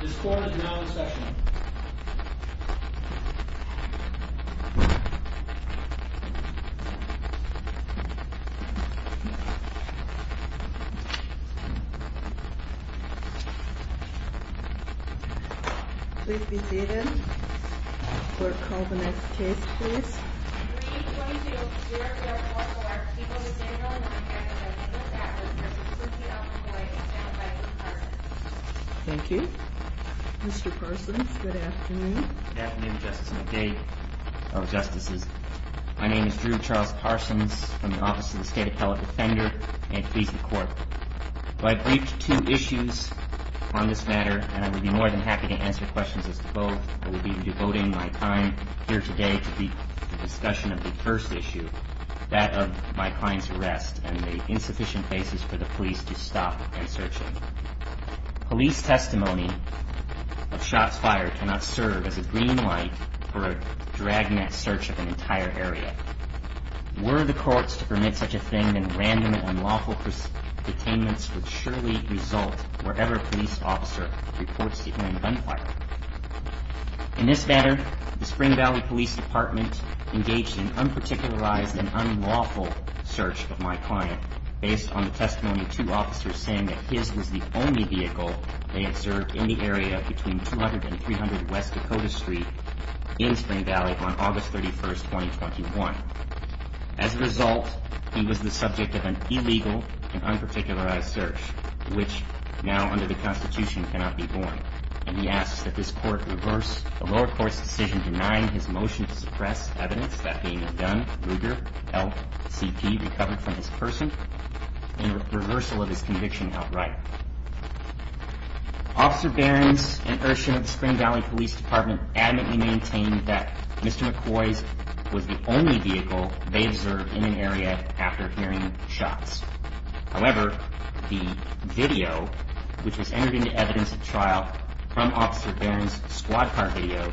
This court is now in session. Please be seated. Court, call the next case, please. We are going to hear from one of our people, Mr. Daniel McCoy, representing McCoy, and Mr. Charles Parsons. Thank you. Mr. Parsons, good afternoon. Good afternoon, Justice, and a day of justices. My name is Drew Charles Parsons from the Office of the State Appellate Defender and Police and Court. I've briefed two issues on this matter, and I would be more than happy to answer questions as to both. I will be devoting my time here today to the discussion of the first issue, that of my client's arrest and the insufficient basis for the police to stop my searching. Police testimony of shots fired cannot serve as a green light for a dragnet search of an entire area. Were the courts to permit such a thing, then random and unlawful detainments would surely result wherever a police officer reports the armed gunfire. In this matter, the Spring Valley Police Department engaged in an unparticularized and unlawful search of my client, based on the testimony of two officers saying that his was the only vehicle they had served in the area between 200 and 300 West Dakota Street in Spring Valley on August 31, 2021. As a result, he was the subject of an illegal and unparticularized search, which, now under the Constitution, cannot be borne. And he asks that this court reverse the lower court's decision denying his motion to suppress evidence that a gun, Luger LCP, recovered from his person in reversal of his conviction outright. Officer Behrens and Ershin of the Spring Valley Police Department adamantly maintain that Mr. McCoy's was the only vehicle they observed in an area after hearing shots. However, the video, which was entered into evidence at trial from Officer Behrens' squad car video,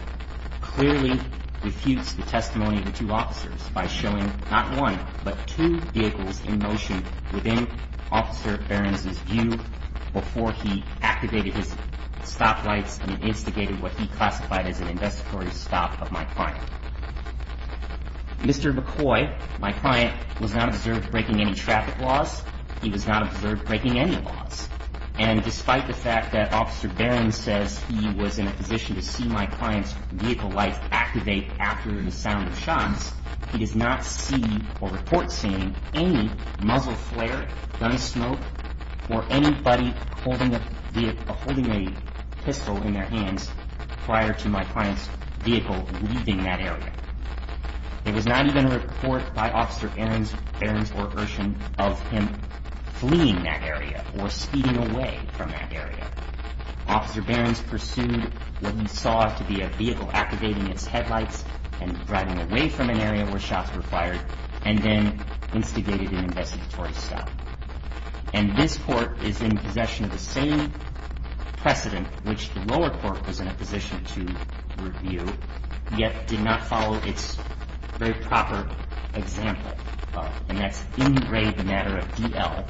clearly refutes the testimony of the two officers by showing not one, but two vehicles in motion within Officer Behrens' view before he activated his stoplights and instigated what he classified as an investigatory stop of my client. Mr. McCoy, my client, was not observed breaking any traffic laws. He was not observed breaking any laws. And despite the fact that Officer Behrens says he was in a position to see my client's vehicle lights activate after the sound of shots, he does not see or report seeing any muzzle flare, gun smoke, or anybody holding a pistol in their hands prior to my client's vehicle leaving that area. There was not even a report by Officer Behrens or Ershin of him fleeing that area or speeding away from that area. Officer Behrens pursued what he saw to be a vehicle activating its headlights and driving away from an area where shots were fired and then instigated an investigatory stop. And this court is in possession of the same precedent which the lower court was in a position to review, yet did not follow its very proper example. And that's in re the matter of D.L.,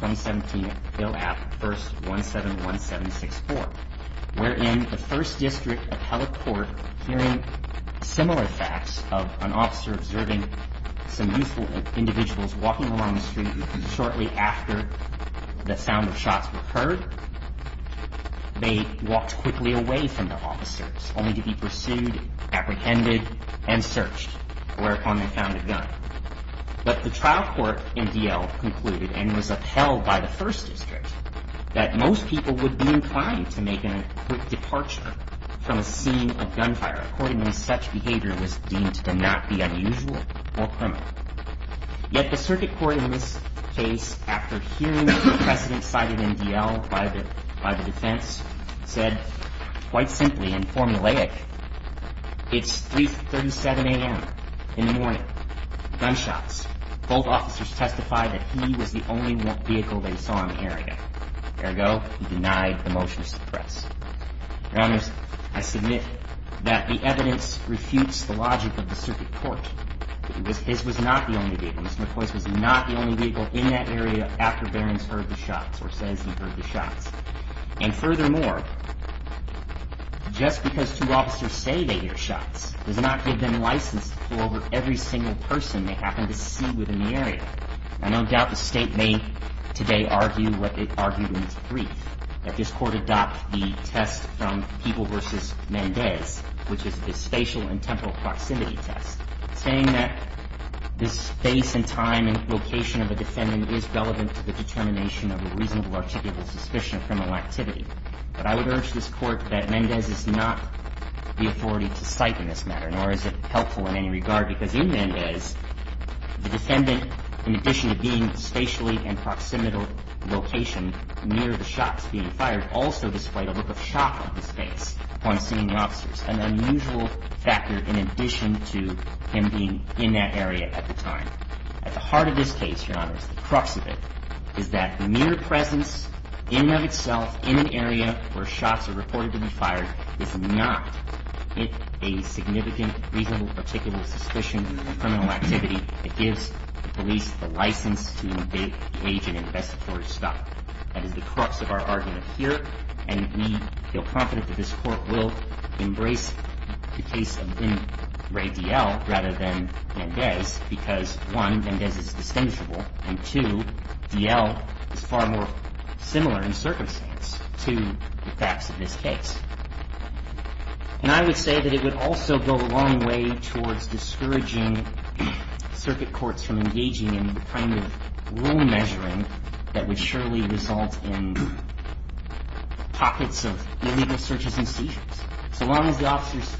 2017, Bill 1st, 171764, where in the 1st District Appellate Court hearing similar facts of an officer observing some youthful individuals walking along the street shortly after the sound of shots were heard, they walked quickly away from the officers only to be pursued, apprehended, and searched whereupon they found a gun. But the trial court in D.L. concluded and was upheld by the 1st District that most people would be inclined to make a quick departure from a scene of gunfire according when such behavior was deemed to not be unusual or criminal. Yet the circuit court in this case after hearing the precedent cited in D.L. by the defense said quite simply and formulaic it's 3.37 a.m. in the morning. Gunshots. Both officers testified that he was the only vehicle they saw in the area. Ergo, he denied the motion to suppress. Your Honors, I submit that the evidence refutes the logic of the circuit court. His was not the only vehicle. Mr. McCoy's was not the only vehicle in that area after Behrens heard the shots or says he heard the shots. And furthermore, just because two officers say they hear shots does not give them license to pull over every single person they happen to see within the area. I don't doubt the state may today argue what it argued in its brief. That this court adopt the test from Peeble versus Mendez which is the spatial and temporal proximity test saying that the space and time and location of a defendant is relevant to the determination of a reasonable articulable suspicion of criminal activity. But I would urge this court that Mendez is not the authority to cite in this matter nor is it helpful in any regard because in Mendez the defendant in addition to being spatially and proximal location near the shots being fired also displayed a look of shock on his face upon seeing the officers. An unusual factor in addition to him being in that area at the time. At the heart of this case, Your Honor, is the crux of it is that mere presence in and of itself in an area where shots are reported to be fired is not a significant reasonable articulable suspicion of criminal activity that gives the police the license to engage in investigatory stuff. That is the crux of our argument here and we feel confident that this court will embrace the case of Vin Ray D.L. rather than Mendez because one, Mendez is distinguishable and two, D.L. is far more similar in circumstance to the facts of this case. And I would say that it would also go a long way towards discouraging circuit courts from engaging in the kind of rule measuring that would surely result in pockets of illegal searches and seizures. So long as the officers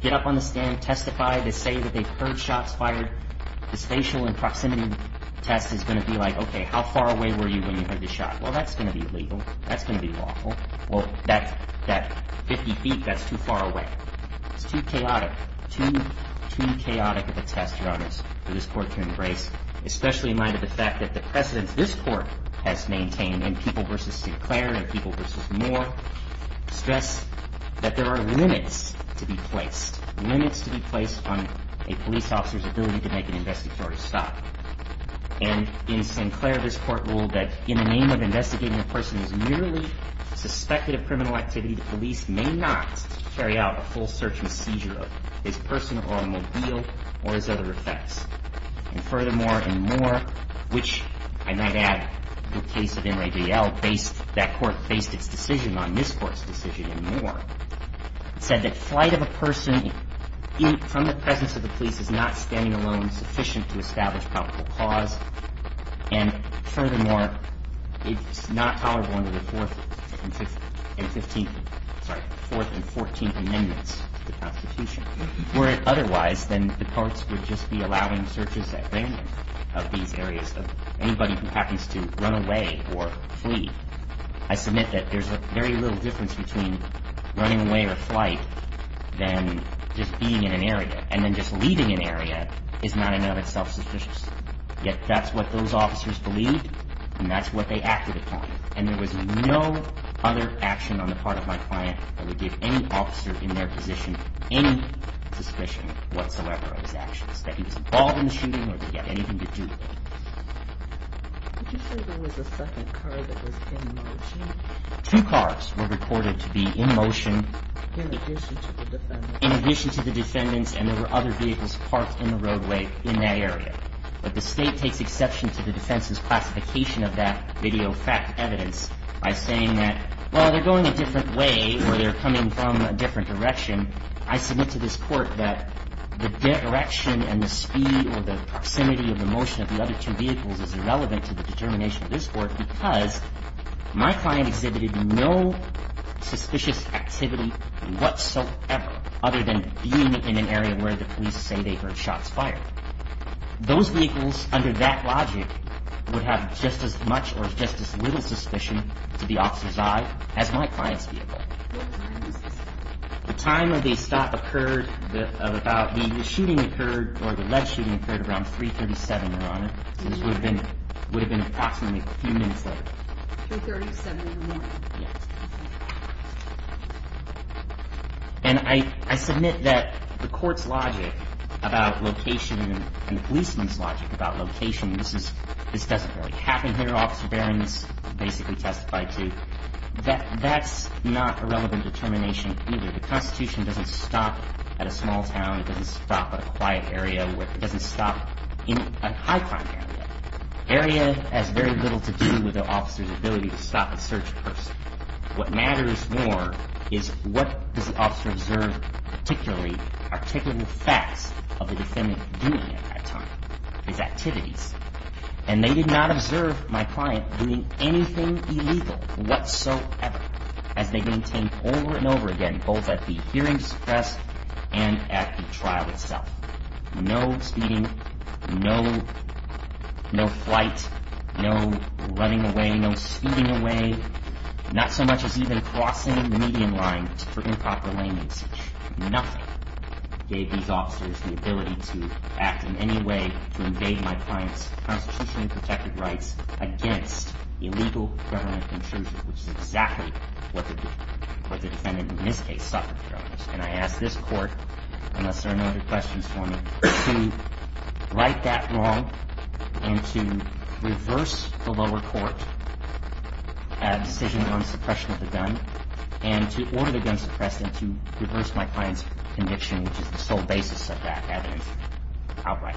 get up on the stand testify, they say that they've heard shots fired the spatial and proximity test is going to be like, okay, how far away were you when you heard the shot? Well, that's going to be illegal. That's going to be lawful. Well, that 50 feet, that's too far away. It's too chaotic. Too, too chaotic of a test, Your Honors, for this court to embrace especially in light of the fact that the precedence this court has maintained in People v. Sinclair and People v. Moore stress that there are limits to be placed. Limits to be placed on a police officer's ability to make an investigatory stop. And in Sinclair, this court ruled that in the name of investigating a person who's merely suspected of criminal activity the police may not carry out a full search and seizure of this person or a mobile or his other effects. And furthermore, in Moore, which I might add in the case of N. Ray D. L. based, that court based its decision on this court's decision in Moore said that flight of a person from the presence of the police is not standing alone sufficient to establish probable cause. And furthermore, it's not tolerable under the 4th and 15th, sorry, 4th and 14th Amendments to the Constitution. Were it otherwise, then the courts would just be allowing searches at random of these areas of anybody who happens to run away or flee. I submit that there's a very little difference between running away or flight than just being in an area. And then just leaving an area is not in and of itself sufficient. Yet that's what those officers believed and that's what they acted upon. And there was no other action on the part of my client that would give any officer in their position any suspicion whatsoever of his actions. That he was involved in the shooting or that he had anything to do with it. Two cars were recorded to be in motion in addition to the defendants and there were other vehicles parked in the roadway in that area. But the state takes exception to the defense's classification of that video fact evidence by saying that, well, they're going a different way or they're coming from a different direction. I submit to this court that the direction and the speed or the proximity of the motion of the other two vehicles is irrelevant to the determination of this court because my client exhibited no suspicious activity whatsoever other than being in an area where the police say they heard shots fired. Those vehicles, under that logic, would have just as much or just as little suspicion to the officer's eye as my client's vehicle. What time was this? The time of the stop occurred about the shooting occurred or the lead shooting occurred around 3.37, Your Honor. So this would have been approximately a few minutes later. 3.37 in the morning? Yes. And I submit that the court's logic about location and the policeman's logic about location this doesn't really happen here. Officer Behrens basically testified to. That's not a relevant determination either. The Constitution doesn't stop at a small town. It doesn't stop at a quiet area. It doesn't stop in a high-crime area. Area has very little to do with the officer's ability to stop a search person. What matters more is what does the officer observe particularly articulable facts of the defendant doing at that time? His activities. And they did not observe my client doing anything illegal whatsoever as they maintained over and over again both at the hearings press and at the trial itself. No speeding. No flight. No running away. No speeding away. Not so much as even crossing the median line for improper lane usage. Nothing gave these officers the ability to act in any way to invade my client's constitutionally protected rights against illegal government intrusion which is exactly what the defendant in this case suffered. And I ask this court unless there are no other questions for me to right that wrong and to reverse the lower court decision on suppression of the gun and to order the gun suppressed and to reverse my client's conviction which is the sole basis of that evidence outright.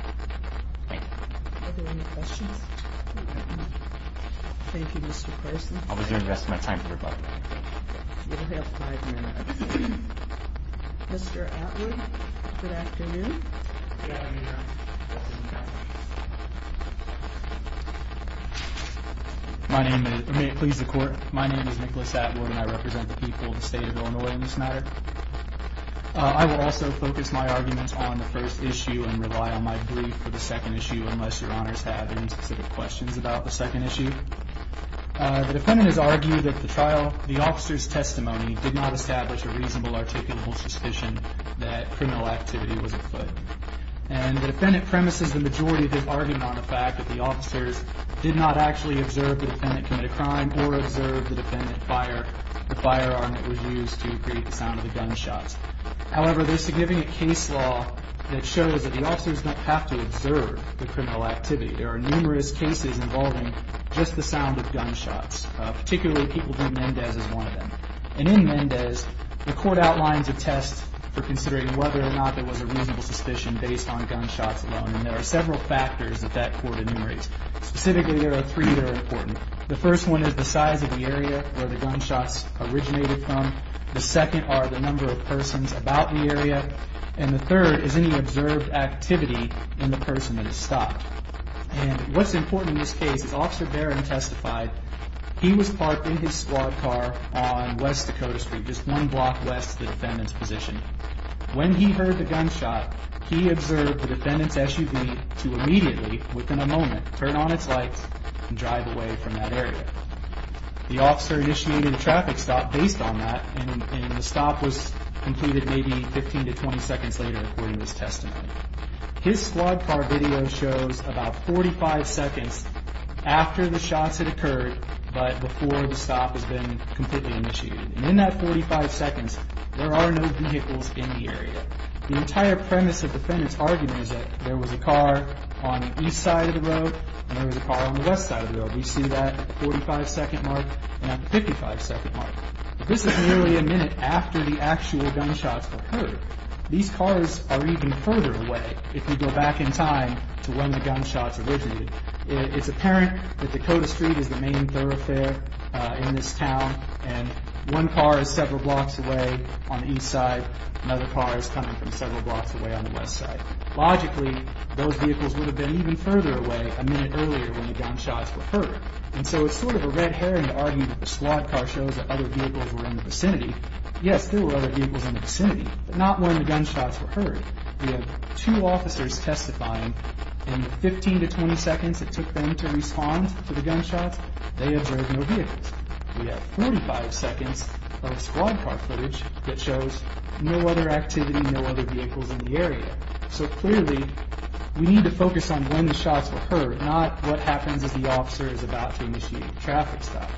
Thank you. Are there any questions? Thank you, Mr. Carson. I'll be doing the rest of my time for your book. You'll have five minutes. Mr. Atwood. Good afternoon. Good afternoon, Your Honor. May it please the court. My name is Nicholas Atwood and I represent the people of the state of Illinois in this matter. I will also focus my arguments on the first issue and rely on my brief for the second issue unless Your Honors have any specific questions about the second issue. The defendant has argued that the trial, the officer's testimony did not establish a reasonable articulable suspicion that criminal activity was afoot. And the defendant premises the majority of his argument on the fact that the officers did not actually observe the defendant commit a crime or observe the defendant fire the firearm that was used to create the sound of the gunshots. However, there's significant case law that shows that the officers don't have to observe the criminal activity. There are numerous cases involving just the sound of gunshots. Particularly people who do Mendez as one of them. And in Mendez, the court outlines a test for considering whether or not there was a reasonable suspicion based on gunshots alone. And there are several factors that that court enumerates. Specifically, there are three that are important. The first one is the size of the area where the gunshots originated from. The second are the number of persons about the area. And the third is any observed activity in the person that stopped. And what's important in this case is Officer Barron testified he was parked in his squad car on West Dakota Street, just one block west of the defendant's position. When he heard the gunshot, he observed the defendant's SUV to immediately, within a moment, turn on its lights and drive away from that area. The officer initiated a traffic stop based on that and the stop was completed maybe 15 to 20 seconds later according to his testimony. His squad car video shows about 45 seconds after the shots had occurred but before the stop has been completely initiated. And in that 45 seconds, there are no vehicles in the area. The entire premise of the defendant's argument is that there was a car on the east side of the road and there was a car on the west side of the road. We see that at the 45 second mark and at the 55 second mark. This is nearly a minute after the actual gunshots were heard. These cars are even further away if we go back in time to when the gunshots originated. It's apparent that Dakota Street is the main thoroughfare in this town and one car is several blocks away on the east side. Another car is coming from several blocks away on the west side. Logically, those vehicles would have been even further away a minute earlier when the gunshots were heard. And so it's sort of a red herring to argue that the squad car shows that other vehicles were in the vicinity. Yes, there were other vehicles in the vicinity, but not when the gunshots were heard. We have two officers testifying and the 15 to 20 seconds it took them to respond to the gunshots, they observed no vehicles. We have 45 seconds of squad car footage that shows no other activity, no other vehicles in the area. So clearly, we need to focus on when the shots were heard, not what happens as the officer is about to initiate traffic stop.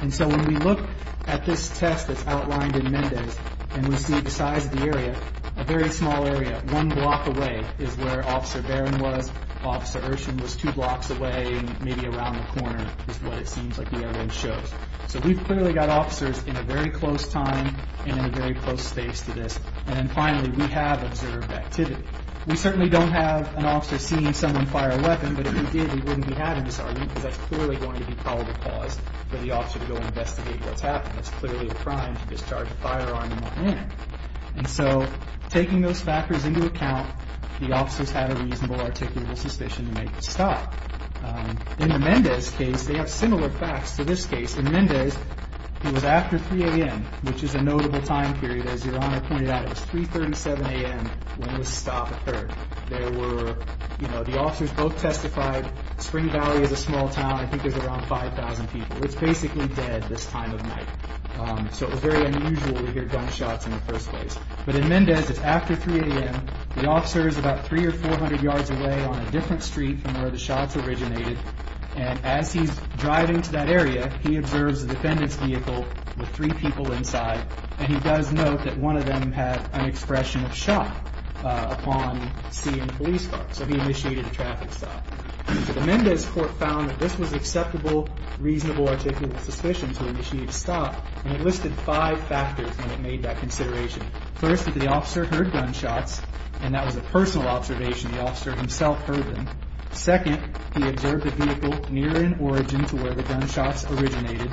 And so when we look at this test that's outlined in Mendez, and we see the size of the area, a very small area, one block away, is where Officer Barron was, Officer Urshin was two blocks away, maybe around the corner is what it seems like the arrow shows. So we've clearly got officers in a very close time and in a very close space to this. And then finally, we have observed activity. We certainly don't have an officer seeing someone fire a weapon, but if he did, he wouldn't be having this argument because that's clearly going to be probably the cause for the officer to go and investigate what's happening. It's clearly a crime to discharge a firearm on a man. And so, taking those factors into account, the officers had a reasonable, articulable suspicion to make the stop. In the Mendez case, they have similar facts to this case. In Mendez, it was after 3 a.m., which is a notable time period. As Your Honor pointed out, it was 3.37 a.m. when the stop occurred. There were, you know, the officers both testified Spring Valley is a small town, I think there's around 5,000 people. It's basically dead this time of night. So it was very unusual to hear gunshots in the first place. But in Mendez, it's after 3 a.m., the officer is about 300 or 400 yards away on a different street from where the shots originated, and as he's driving to that area, he observes the defendant's vehicle with three people inside, and he does note that one of them had an expression of shock upon seeing the police car. So he initiated a traffic stop. The Mendez court found that this was acceptable, reasonable, articulable suspicion to initiate a stop, and it listed five factors when it made that consideration. First, that the officer heard gunshots, and that was a personal observation. The officer himself heard them. Second, he observed the vehicle near in origin to where the gunshots originated.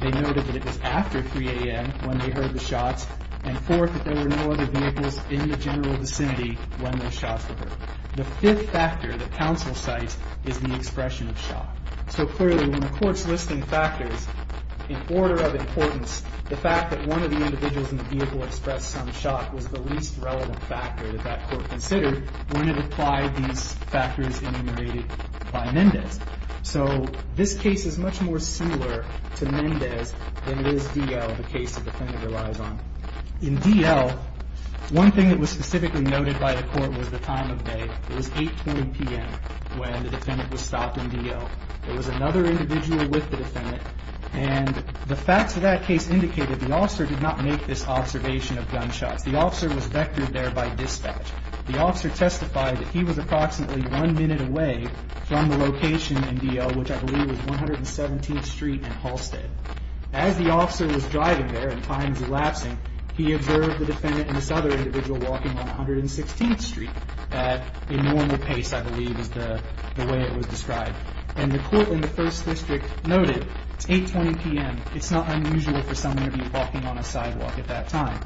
They noted that it was after 3 a.m. when they heard the shots, and fourth, that there were no other vehicles in the general vicinity when those shots were heard. The fifth factor that counsel cites is the expression of shock. So clearly, when the court's listing factors in order of importance, the fact that one of the individuals in the vehicle expressed some shock was the least relevant factor that that court considered when it applied these factors enumerated by Mendez. So this case is much more similar to Mendez than it is D.L., the case the defendant relies on. In D.L., one thing that was specifically noted by the court was the time of day. It was 8.20 p.m. when the defendant was stopped in D.L. It was another individual with the defendant, and the facts of that case indicated the officer did not make this observation of gunshots. The officer was vectored there by dispatch. The officer testified that he was approximately one minute away from the location in D.L., which I believe was 117th Street in Halsted. As the officer was driving there and time was elapsing, he observed the defendant and this other individual walking on 116th Street at a normal pace, I believe, is the way it was described. And the court in the First District noted, it's 8.20 p.m., it's not unusual for someone to be walking on a sidewalk at that time.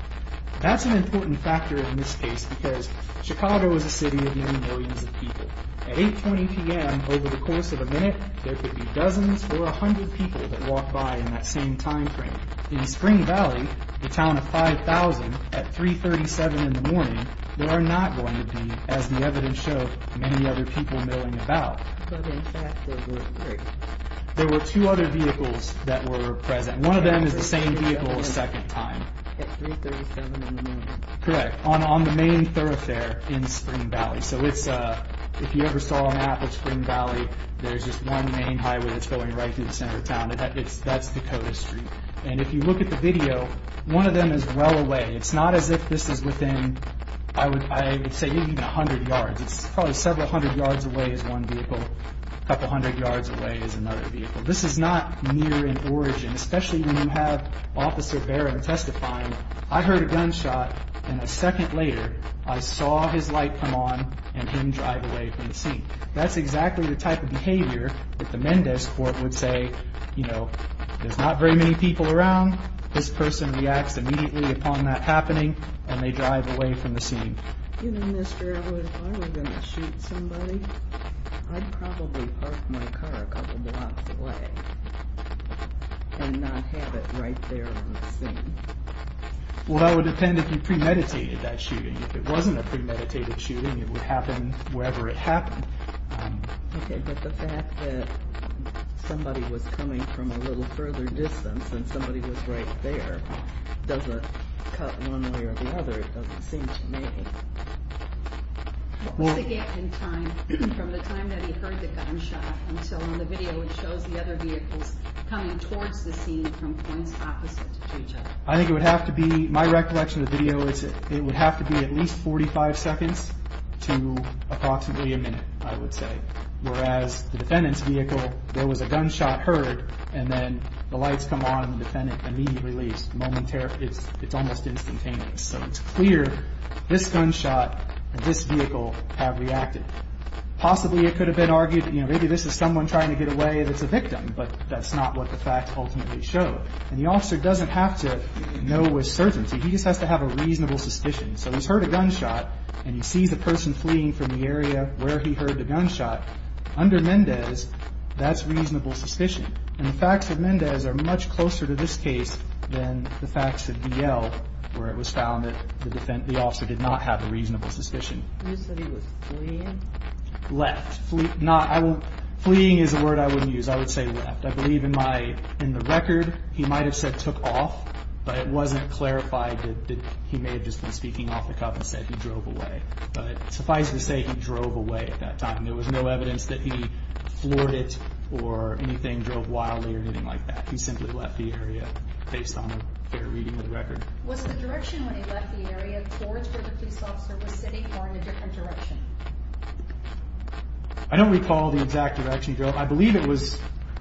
That's an important factor in this case because Chicago is a city of many millions of people. At 8.20 p.m., over the course of a minute, there could be dozens or 100 people that walk by in that same time frame. In Spring Valley, the town of 5,000, at 3.37 in the morning, there are not going to be, as the evidence showed, many other people milling about. But in fact, there were three. There were two other vehicles that were present. One of them is the same vehicle a second time. At 3.37 in the morning. Correct. On the main thoroughfare in Spring Valley. So it's, if you ever saw an app in Spring Valley, there's just one main highway that's going right through the center of town. That's Dakota Street. And if you look at the video, one of them is well away. It's not as if this is within, I would say, even 100 yards. It's probably several hundred yards away is one vehicle. A couple hundred yards away is another vehicle. This is not near in origin. Especially when you have Officer Barron testifying, I heard a gunshot and a second later, I saw his light come on and him drive away from the scene. That's exactly the type of behavior that the Mendez Court would say, you know, there's not very many people around. This person reacts immediately upon that happening and they drive away from the scene. Even this girl was, are we going to shoot somebody? I'd probably park my car a couple blocks away and not have it right there on the scene. Well, that would depend if you premeditated that shooting. If it wasn't a premeditated shooting, it would happen wherever it happened. Okay, but the fact that somebody was coming from a little further distance and somebody was right there doesn't cut one way or the other, it doesn't seem to me. What's the gap in time from the time that he heard the gunshot until in the video it shows the other vehicles coming towards the scene from points opposite to each other? I think it would have to be, my recollection of the video is it would have to be at least 45 seconds to approximately a minute, I would say. Whereas the defendant's vehicle, there was a gunshot heard and then the lights come on and the defendant immediately leaves. It's almost instantaneous. So it's clear this gunshot and this vehicle have reacted. Possibly it could have been argued maybe this is someone trying to get away that's a victim, but that's not what the fact ultimately showed. And the officer doesn't have to know with certainty, he just has to have a reasonable suspicion. So he's heard a gunshot and he sees a person fleeing from the area where he heard the gunshot. Under Mendez, that's reasonable suspicion. And the facts of Mendez are much closer to this case than the facts of BL where it was found that the officer did not have a reasonable suspicion. You said he was fleeing? Left. Fleeing is a word I wouldn't use. I would say left. I believe in the record, he might have said took off, but it wasn't clarified that he may have just been speaking off the cuff and said he drove away. But suffice to say, he drove away at that time. There was no evidence that he floored it or anything, drove wildly or anything like that. He simply left the area based on a fair reading of the record. Was the direction when he left the area towards where the police officer was sitting or in a different direction? I don't recall the exact direction he drove. I believe it was,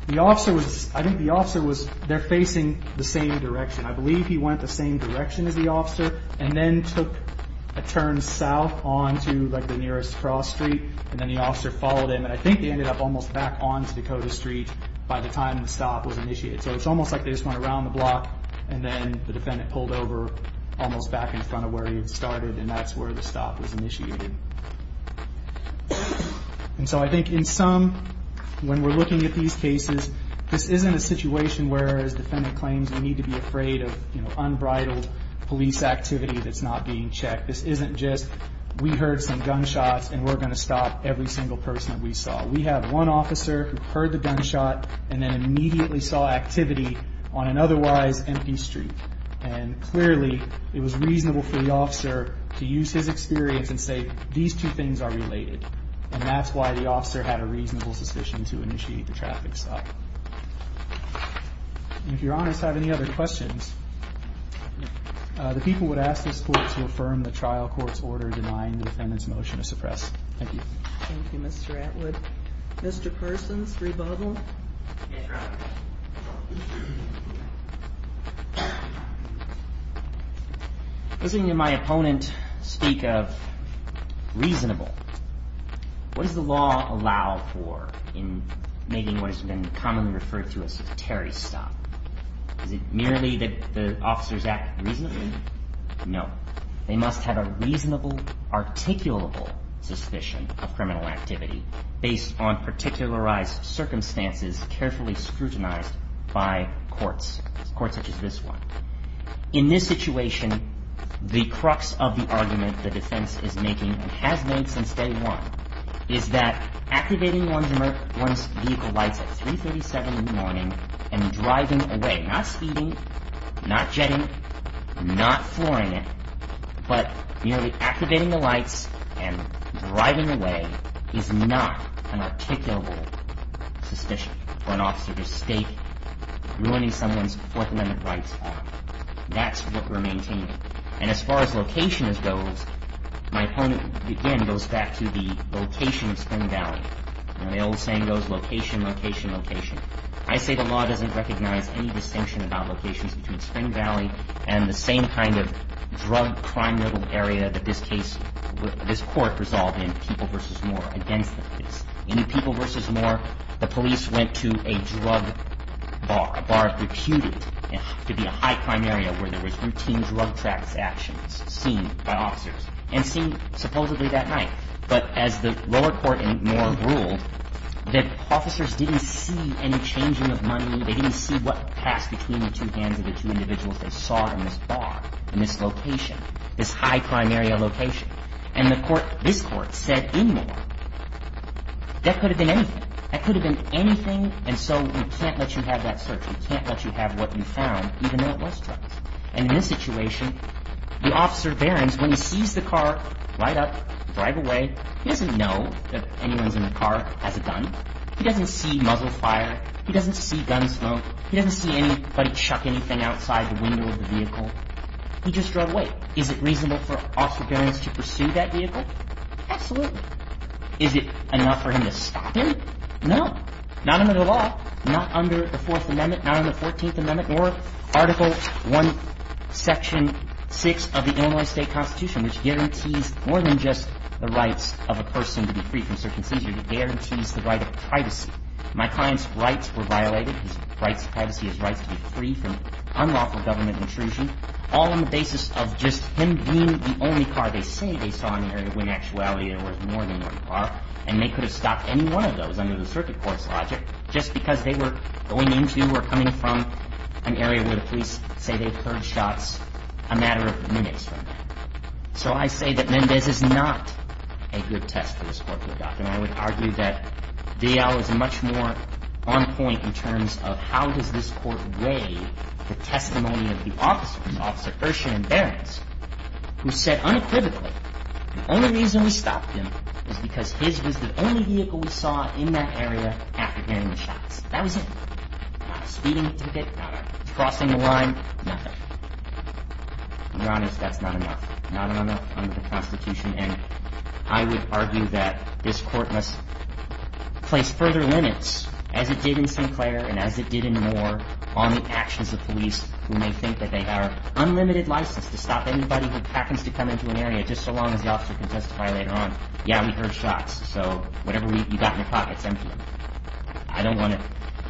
the officer was, I think the officer was, they're facing the same direction. I believe he went the same direction as the officer and then took a turn south onto like the nearest cross street and then the officer followed him. And I think they ended up almost back onto Dakota Street by the time the stop was initiated. So it's almost like they just went around the block and then the defendant pulled over almost back in front of where he had started and that's where the stop was initiated. And so I think in some, when we're looking at these cases, this isn't a situation where as defendant claims we need to be afraid of unbridled police activity that's not being checked. This isn't just we heard some gunshots and we're going to stop every single person that we saw. We have one officer who heard the gunshot and then immediately saw activity on an otherwise empty street. And clearly it was reasonable for the officer to use his experience and say these two things are related. And that's why the officer had a reasonable suspicion to initiate the traffic stop. And if you're honest I have any other questions. The people would ask this court to affirm the trial court's order denying the defendant's motion to suppress. Thank you. Thank you Mr. Atwood. Mr. Persons, rebuttal. Listening to my opponent speak of reasonable, what does the law allow for in making what has been commonly referred to as a terry stop? Is it merely that the officers act reasonably? No. They must have a reasonable articulable suspicion of criminal activity based on particularized circumstances carefully scrutinized by courts. Courts such as this one. In this situation the crux of the argument the defense is making and has made since day one is that activating one's vehicle lights at 3.37 in the morning and driving away not speeding, not jetting, not flooring it, but merely activating the lights and driving away is not an articulable suspicion for an officer to state ruining someone's That's what we're maintaining. And as far as location goes my opponent again goes back to the location of Spring Valley. The old saying goes location, location, location. I say the law doesn't recognize any distinction about locations between Spring Valley and the same kind of drug crime riddled area that this case, this court resolved in People v. Moore against the police. In People v. Moore the police went to a drug bar. A drug bar reputed to be a high crime area where there was routine drug trafficking actions seen by officers and seen supposedly that night. But as the lower court in Moore ruled that officers didn't see any changing of money. They didn't see what passed between the two hands of the two individuals they saw in this bar in this location, this high crime area location. And this court said in Moore that could have been anything. That could have been anything and so we can't let you have that search. We can't let you have what you found even though it was drugs. And in this situation the officer Barron's when he sees the car ride up, drive away, he doesn't know that anyone's in the car has a gun. He doesn't see muzzle fire. He doesn't see gun smoke. He doesn't see anybody chuck anything outside the window of the vehicle. He just drove away. Is it reasonable for Officer Barron's to pursue that vehicle? Absolutely. Is it enough for him to stop him? No. Not under the law. Not under the 4th Amendment. Not under the 14th Amendment or Article 1, Section 6 of the Illinois State Constitution which guarantees more than just the rights of a person to be free from circumcision. It guarantees the right of privacy. My client's rights were violated. His rights of privacy, his rights to be free from unlawful government intrusion all on the basis of just him being they saw in the area when in actuality there was more than one car and they could have stopped any one of those under the circuit court's logic just because they were going into or coming from an area where the police say they've heard shots a matter of minutes from there. So I say that Mendez is not a good test for this Court to adopt. And I would argue that V.L. is much more on point in terms of how does this Court weigh the testimony of the officer, Officer Ershin and Barron's the only reason we stopped him is because his was the only vehicle we saw in that area after Mendez was shot. And I would argue that the only reason we stopped him was because he was getting the shots. That was it. Not a speeding ticket, not a crossing the line, nothing. To be honest, that's not enough. Not enough under the Constitution and I would argue that this Court must place further limits as it did in Sinclair and as it did in Moore on the actions of police who may think that they have unlimited license to stop anybody who happens to come into an area just so long as the officer can testify later on. Yeah, we heard shots so whatever you've got in your pocket it's empty. I don't want to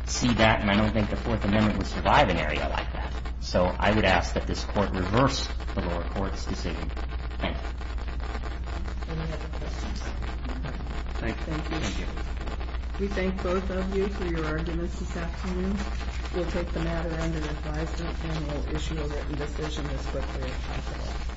see that and I don't think the Fourth Amendment would survive an area like that. So I would ask that this Court reverse the lower Court's decision. Thank you. We thank both of you for your arguments this afternoon. We'll take the matter under advisement and we'll issue a written decision as quickly as possible.